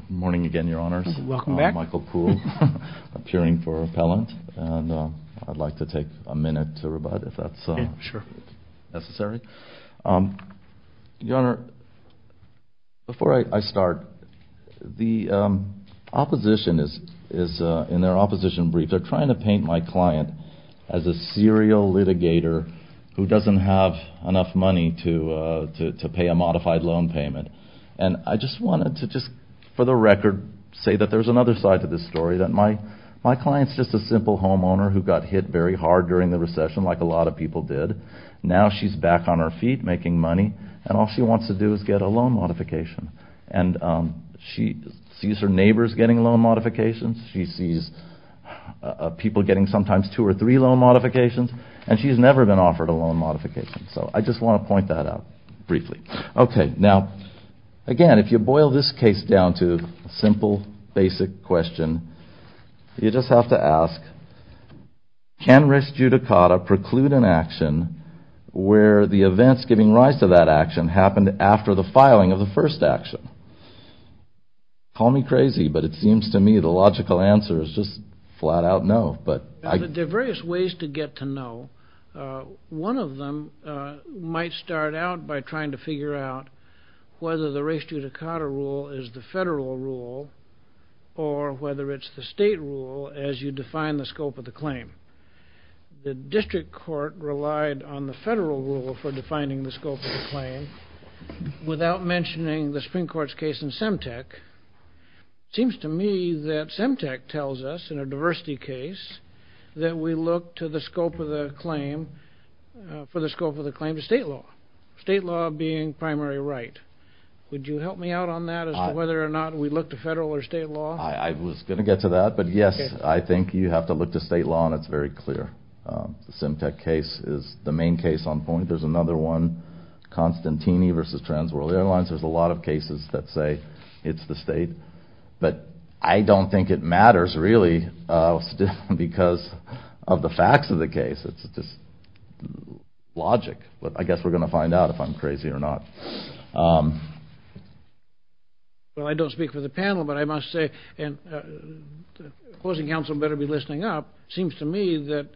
Good morning again, Your Honors. Welcome back. I'm Michael Kuhl, appearing for appellant, and I'd like to take a minute to rebut if that's necessary. Your Honor, before I start, the opposition is, in their opposition brief, they're trying to paint my client as a serial litigator who doesn't have enough money to pay a modified loan payment. And I just wanted to just, for the record, say that there's another side to this story, that my client's just a simple homeowner who got hit very hard during the recession, like a lot of people did. Now she's back on her feet making money, and all she wants to do is get a loan modification. And she sees her neighbors getting loan modifications. She sees people getting sometimes two or three loan modifications. And she's never been offered a loan modification. So I just want to point that out briefly. Okay. Now, again, if you boil this case down to a simple, basic question, you just have to ask, can res judicata preclude an action where the events giving rise to that action happened after the filing of the first action? Call me crazy, but it seems to me the logical answer is just flat out no. There are various ways to get to no. One of them might start out by trying to figure out whether the res judicata rule is the federal rule or whether it's the state rule as you define the scope of the claim. The district court relied on the federal rule for defining the scope of the claim. Without mentioning the Supreme Court's case in Semtec, it seems to me that Semtec tells us in a diversity case that we look to the scope of the claim for the scope of the claim to state law, state law being primary right. Would you help me out on that as to whether or not we look to federal or state law? I was going to get to that. But, yes, I think you have to look to state law, and it's very clear. The Semtec case is the main case on point. There's another one, Constantini v. Trans World Airlines. There's a lot of cases that say it's the state. But I don't think it matters really because of the facts of the case. It's just logic. But I guess we're going to find out if I'm crazy or not. Well, I don't speak for the panel, but I must say, and opposing counsel better be listening up, it seems to me that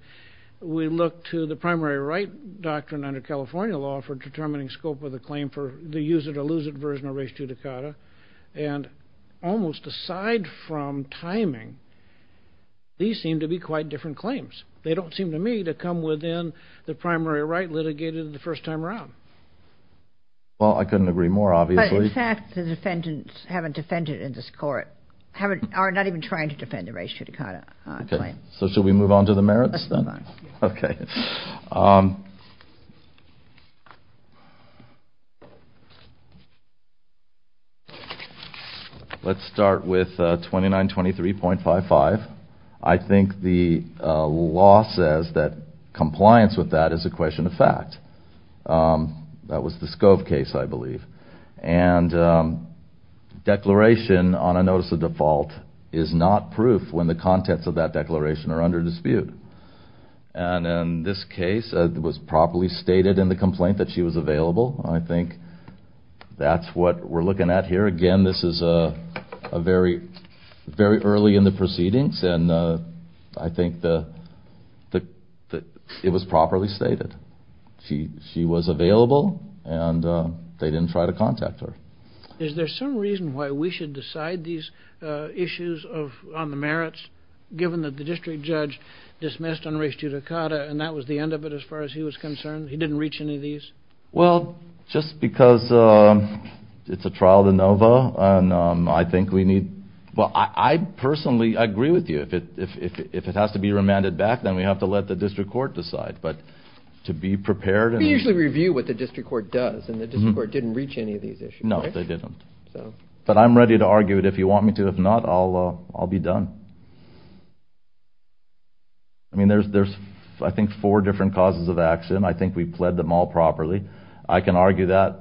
we look to the primary right doctrine under California law for determining scope of the claim for the use of the lucid version of res judicata. And almost aside from timing, these seem to be quite different claims. They don't seem to me to come within the primary right litigated the first time around. Well, I couldn't agree more, obviously. But, in fact, the defendants haven't defended it in this court, are not even trying to defend the res judicata claim. Let's move on. Okay. Let's start with 2923.55. I think the law says that compliance with that is a question of fact. That was the Scove case, I believe. And declaration on a notice of default is not proof when the contents of that declaration are under dispute. And in this case, it was properly stated in the complaint that she was available. I think that's what we're looking at here. Again, this is very early in the proceedings, and I think that it was properly stated. She was available, and they didn't try to contact her. Is there some reason why we should decide these issues on the merits, given that the district judge dismissed unres judicata, and that was the end of it as far as he was concerned? He didn't reach any of these? Well, just because it's a trial de novo, and I think we need – well, I personally agree with you. If it has to be remanded back, then we have to let the district court decide. But to be prepared – We usually review what the district court does, and the district court didn't reach any of these issues. No, they didn't. But I'm ready to argue it if you want me to. If not, I'll be done. I mean, there's, I think, four different causes of accident. I think we pled them all properly. I can argue that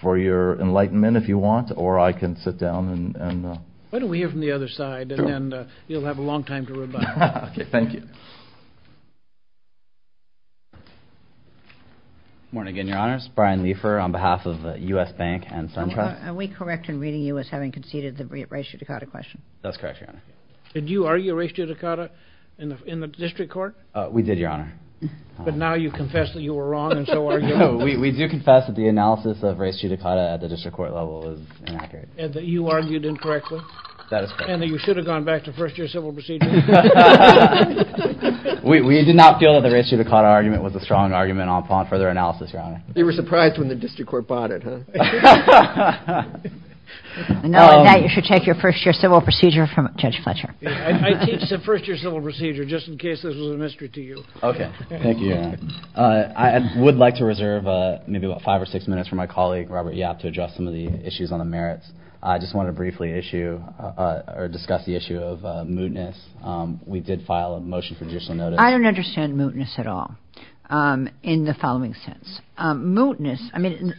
for your enlightenment if you want, or I can sit down and – Why don't we hear from the other side, and then you'll have a long time to rebut. Okay, thank you. Morning again, Your Honors. Brian Lefer on behalf of U.S. Bank and Sun Trust. Are we correct in reading you as having conceded the res judicata question? That's correct, Your Honor. Did you argue res judicata in the district court? We did, Your Honor. But now you confess that you were wrong, and so are you. No, we do confess that the analysis of res judicata at the district court level is inaccurate. And that you argued incorrectly? That is correct. And that you should have gone back to first-year civil proceedings? We did not feel that the res judicata argument was a strong argument upon further analysis, Your Honor. You were surprised when the district court bought it, huh? Knowing that, you should take your first-year civil procedure from Judge Fletcher. I teach the first-year civil procedure, just in case this was a mystery to you. Okay, thank you, Your Honor. I would like to reserve maybe about five or six minutes for my colleague, Robert Yap, to address some of the issues on the merits. I just want to briefly issue or discuss the issue of mootness. We did file a motion for judicial notice. I don't understand mootness at all in the following sense. Mootness, I mean,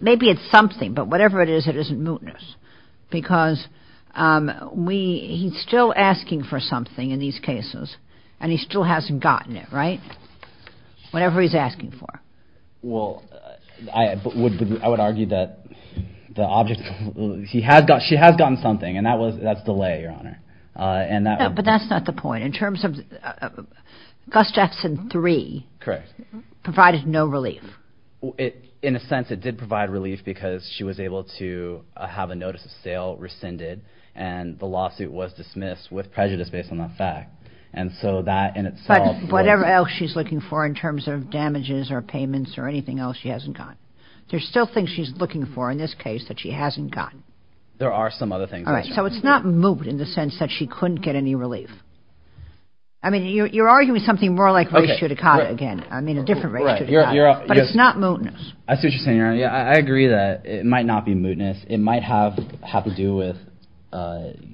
maybe it's something, but whatever it is, it isn't mootness. Because he's still asking for something in these cases, and he still hasn't gotten it, right? Whatever he's asking for. Well, I would argue that she has gotten something, and that's delay, Your Honor. No, but that's not the point. In terms of Gus Jackson 3 provided no relief. In a sense, it did provide relief because she was able to have a notice of sale rescinded, and the lawsuit was dismissed with prejudice based on that fact. But whatever else she's looking for in terms of damages or payments or anything else she hasn't gotten. There's still things she's looking for in this case that she hasn't gotten. There are some other things. All right. So it's not moot in the sense that she couldn't get any relief. I mean, you're arguing something more like race judicata again. I mean, a different race judicata. But it's not mootness. That's interesting, Your Honor. I agree that it might not be mootness. It might have to do with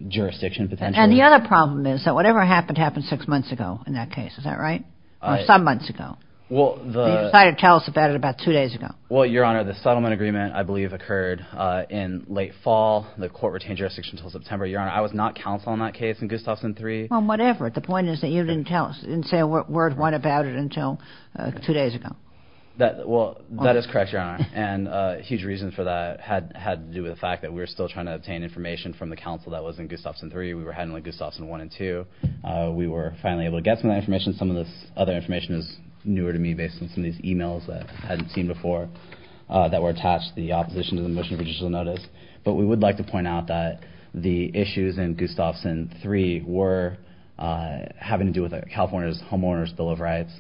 jurisdiction potential. And the other problem is that whatever happened happened six months ago in that case. Is that right? Some months ago. You decided to tell us about it about two days ago. Well, Your Honor, the settlement agreement, I believe, occurred in late fall. The court retained jurisdiction until September, Your Honor. I was not counsel in that case in Gustafson 3. Well, whatever. The point is that you didn't say a word about it until two days ago. Well, that is correct, Your Honor. And a huge reason for that had to do with the fact that we were still trying to obtain information from the counsel that was in Gustafson 3. We were handling Gustafson 1 and 2. We were finally able to get some of that information. Some of this other information is newer to me based on some of these e-mails that I hadn't seen before that were attached to the opposition to the motion of judicial notice. But we would like to point out that the issues in Gustafson 3 were having to do with California's Homeowner's Bill of Rights,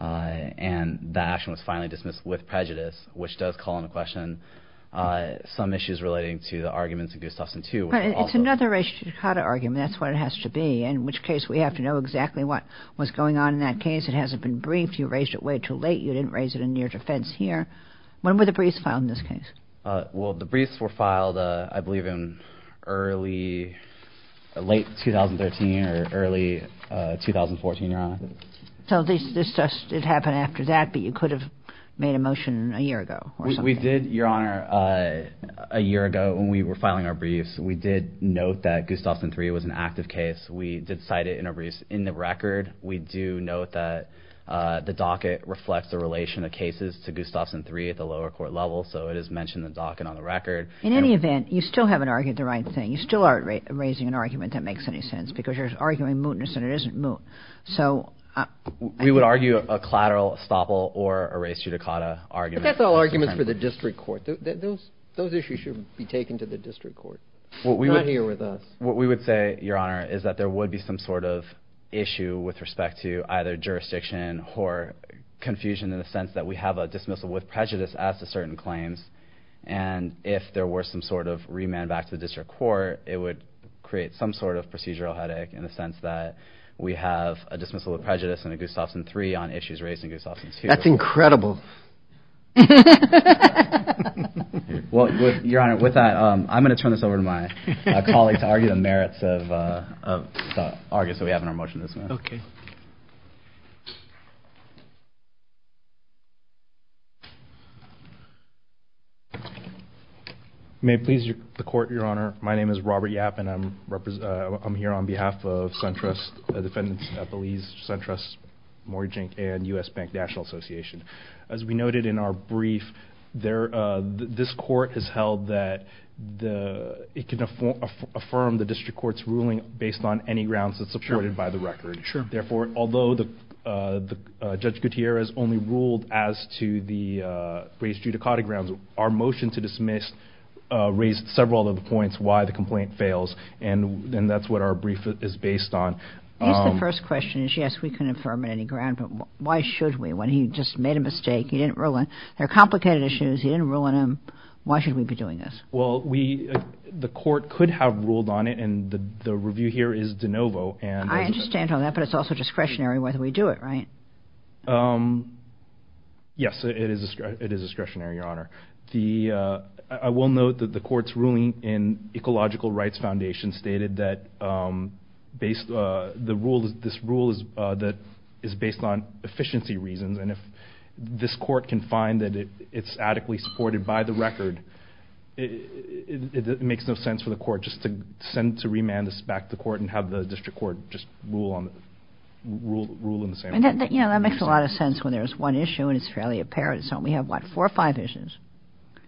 and that action was finally dismissed with prejudice, which does call into question some issues relating to the arguments in Gustafson 2. But it's another race-to-tacata argument. That's what it has to be, in which case we have to know exactly what was going on in that case. It hasn't been briefed. You raised it way too late. You didn't raise it in your defense here. When were the briefs filed in this case? Well, the briefs were filed, I believe, in early — late 2013 or early 2014, Your Honor. So this just — it happened after that, but you could have made a motion a year ago or something. We did, Your Honor, a year ago when we were filing our briefs, we did note that Gustafson 3 was an active case. We did cite it in our briefs. In the record, we do note that the docket reflects the relation of cases to Gustafson 3 at the lower court level, so it is mentioned in the docket on the record. In any event, you still haven't argued the right thing. You still aren't raising an argument that makes any sense because you're arguing mootness and it isn't moot. So — We would argue a collateral estoppel or a race-to-tacata argument. That's all arguments for the district court. Those issues should be taken to the district court, not here with us. What we would say, Your Honor, is that there would be some sort of issue with respect to either jurisdiction or confusion in the sense that we have a dismissal with prejudice as to certain claims, and if there were some sort of remand back to the district court, it would create some sort of procedural headache in the sense that we have a dismissal with prejudice under Gustafson 3 on issues raised in Gustafson 2. That's incredible. Well, Your Honor, with that, I'm going to turn this over to my colleague to argue the merits of the arguments that we have in our motion this morning. Okay. May it please the court, Your Honor, my name is Robert Yap, and I'm here on behalf of SunTrust, the defendants at Belize, SunTrust Mortgage Inc. and U.S. Bank National Association. As we noted in our brief, this court has held that it can affirm the district court's ruling based on any grounds that's supported by the record. Sure. Therefore, although Judge Gutierrez only ruled as to the race-to-tacata grounds, our motion to dismiss raised several of the points why the complaint fails, and that's what our brief is based on. I guess the first question is, yes, we can affirm it on any ground, but why should we? When he just made a mistake, he didn't rule on it. They're complicated issues. He didn't rule on them. Why should we be doing this? Well, the court could have ruled on it, and the review here is de novo. I understand all that, but it's also discretionary whether we do it, right? Yes, it is discretionary, Your Honor. I will note that the court's ruling in Ecological Rights Foundation stated that this rule is based on efficiency reasons, and if this court can find that it's adequately supported by the record, it makes no sense for the court just to send to remand this back to court That makes a lot of sense when there's one issue and it's fairly apparent. So we have, what, four or five issues?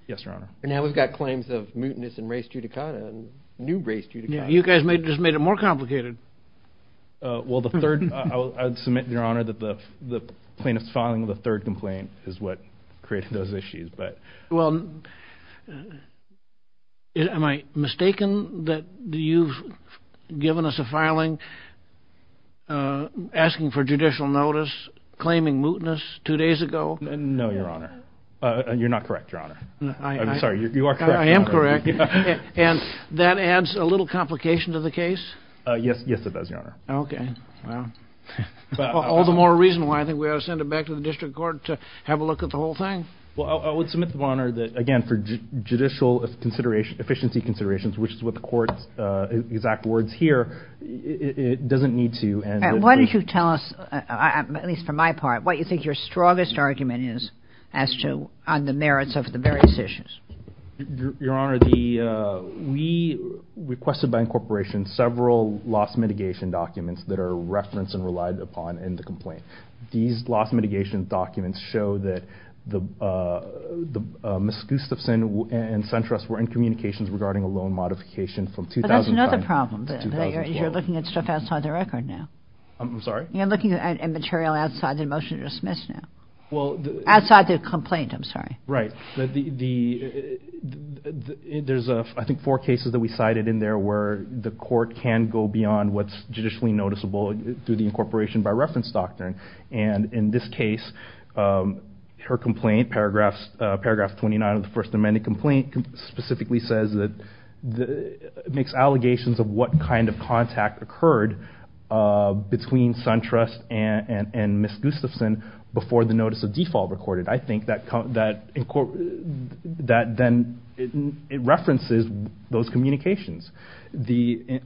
Yes, Your Honor. And now we've got claims of mutinous and race-to-tacata and new race-to-tacata. You guys just made it more complicated. Well, the third, I would submit, Your Honor, that the plaintiff's filing of the third complaint is what created those issues. Well, am I mistaken that you've given us a filing asking for judicial notice claiming mutinous two days ago? No, Your Honor. You're not correct, Your Honor. I'm sorry, you are correct, Your Honor. I am correct. And that adds a little complication to the case? Yes, it does, Your Honor. Okay. Well, all the more reason why I think we ought to send it back to the district court to have a look at the whole thing. Well, I would submit, Your Honor, that, again, for judicial efficiency considerations, which is what the court's exact words here, it doesn't need to. Why don't you tell us, at least for my part, what you think your strongest argument is on the merits of the various issues? Your Honor, we requested by incorporation several loss mitigation documents that are referenced and relied upon in the complaint. These loss mitigation documents show that Ms. Gustafson and Centrist were in communications regarding a loan modification from 2005 to 2012. But that's another problem, that you're looking at stuff outside the record now. I'm sorry? You're looking at material outside the motion to dismiss now, outside the complaint, I'm sorry. Right. There's, I think, four cases that we cited in there where the court can go beyond what's judicially noticeable through the incorporation by reference doctrine. And in this case, her complaint, paragraph 29 of the First Amendment complaint, specifically says that it makes allegations of what kind of contact occurred between Centrist and Ms. Gustafson before the notice of default recorded. I think that then it references those communications.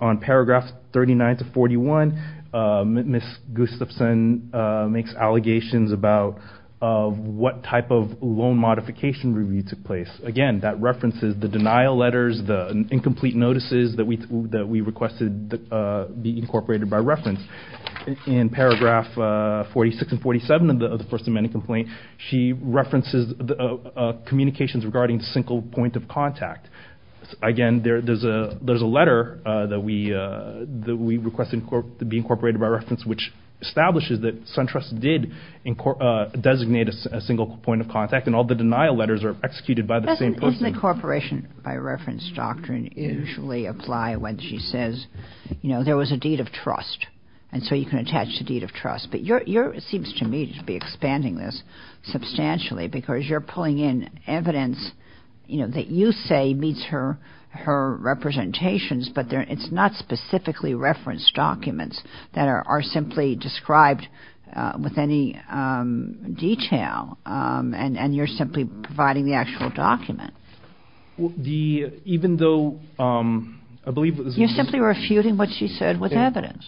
On paragraph 39 to 41, Ms. Gustafson makes allegations about what type of loan modification review took place. Again, that references the denial letters, the incomplete notices that we requested be incorporated by reference. In paragraph 46 and 47 of the First Amendment complaint, she references communications regarding single point of contact. Again, there's a letter that we requested to be incorporated by reference, which establishes that Centrist did designate a single point of contact, and all the denial letters are executed by the same person. Doesn't incorporation by reference doctrine usually apply when she says, you know, there was a deed of trust? And so you can attach the deed of trust. But yours seems to me to be expanding this substantially because you're pulling in evidence, you know, that you say meets her representations, but it's not specifically referenced documents that are simply described with any detail, and you're simply providing the actual document. You're simply refuting what she said with evidence.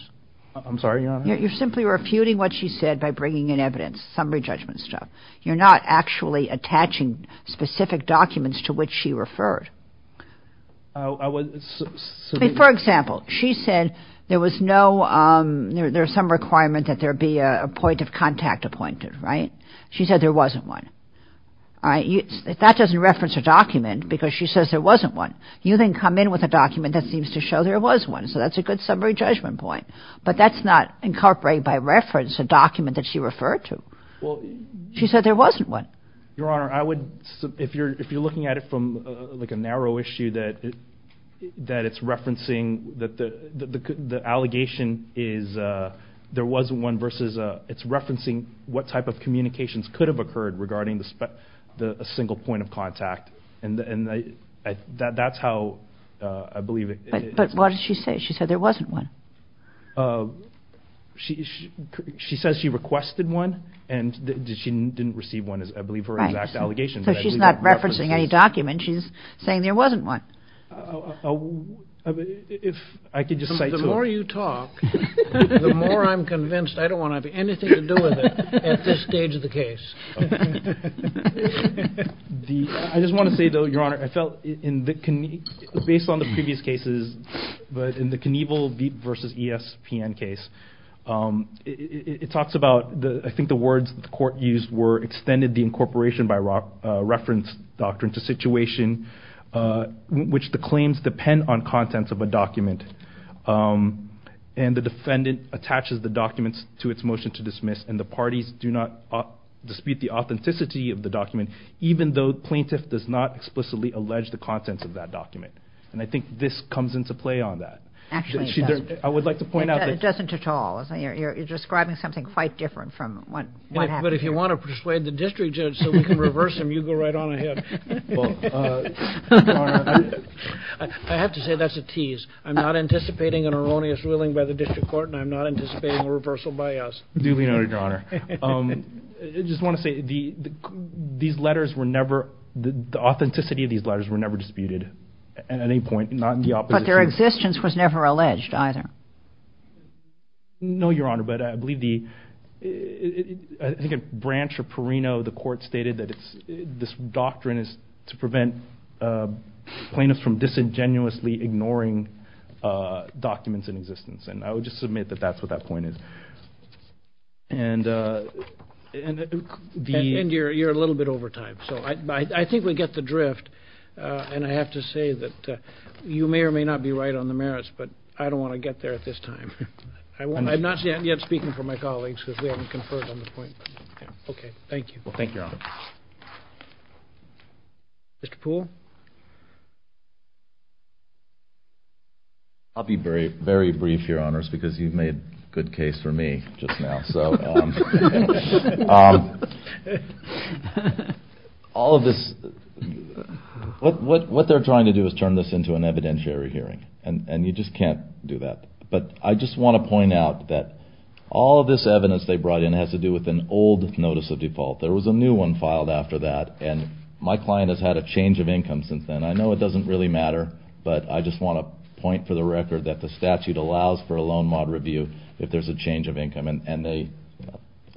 I'm sorry, Your Honor? You're simply refuting what she said by bringing in evidence, summary judgment stuff. You're not actually attaching specific documents to which she referred. I mean, for example, she said there was no ‑‑ there's some requirement that there be a point of contact appointed, right? She said there wasn't one. That doesn't reference a document because she says there wasn't one. You then come in with a document that seems to show there was one, so that's a good summary judgment point. But that's not incorporated by reference a document that she referred to. She said there wasn't one. Your Honor, if you're looking at it from like a narrow issue that it's referencing that the allegation is there wasn't one versus it's referencing what type of communications could have occurred regarding a single point of contact. And that's how I believe it is. But what did she say? She said there wasn't one. She says she requested one and she didn't receive one is, I believe, her exact allegation. So she's not referencing any document. She's saying there wasn't one. If I could just say to her. The more you talk, the more I'm convinced I don't want to have anything to do with it at this stage of the case. I just want to say, though, Your Honor, I felt in the ‑‑ based on the previous cases, but in the Knievel v. ESPN case, it talks about I think the words the court used were extended the incorporation by reference doctrine to situation which the claims depend on contents of a document. And the defendant attaches the documents to its motion to dismiss and the parties do not dispute the authenticity of the document, even though the plaintiff does not explicitly allege the contents of that document. And I think this comes into play on that. Actually, it doesn't. I would like to point out that. It doesn't at all. You're describing something quite different from what happened. But if you want to persuade the district judge so we can reverse him, you go right on ahead. Well, Your Honor, I have to say that's a tease. I'm not anticipating an erroneous ruling by the district court and I'm not anticipating a reversal by us. Duly noted, Your Honor. I just want to say these letters were never ‑‑ the authenticity of these letters were never disputed at any point, not in the opposition. But their existence was never alleged either. No, Your Honor, but I believe the ‑‑ I think at Branch or Perino, the court stated that this doctrine is to prevent plaintiffs from disingenuously ignoring documents in existence. And I would just submit that that's what that point is. And you're a little bit over time. So I think we get the drift. And I have to say that you may or may not be right on the merits, but I don't want to get there at this time. I'm not yet speaking for my colleagues because we haven't conferred on this point. Okay. Thank you. Thank you, Your Honor. Mr. Poole? I'll be very brief, Your Honors, because you've made good case for me just now. So all of this ‑‑ what they're trying to do is turn this into an evidentiary hearing. And you just can't do that. But I just want to point out that all of this evidence they brought in has to do with an old notice of default. There was a new one filed after that. And my client has had a change of income since then. I know it doesn't really matter, but I just want to point for the record that the statute allows for a loan mod review if there's a change of income. And they,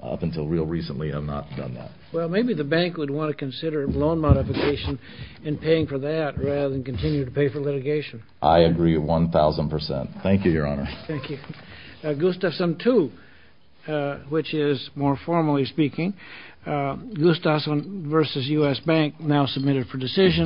up until real recently, have not done that. Well, maybe the bank would want to consider loan modification and paying for that rather than continue to pay for litigation. I agree 1,000 percent. Thank you, Your Honor. Thank you. Gustafson 2, which is, more formally speaking, Gustafson v. U.S. Bank, now submitted for decision.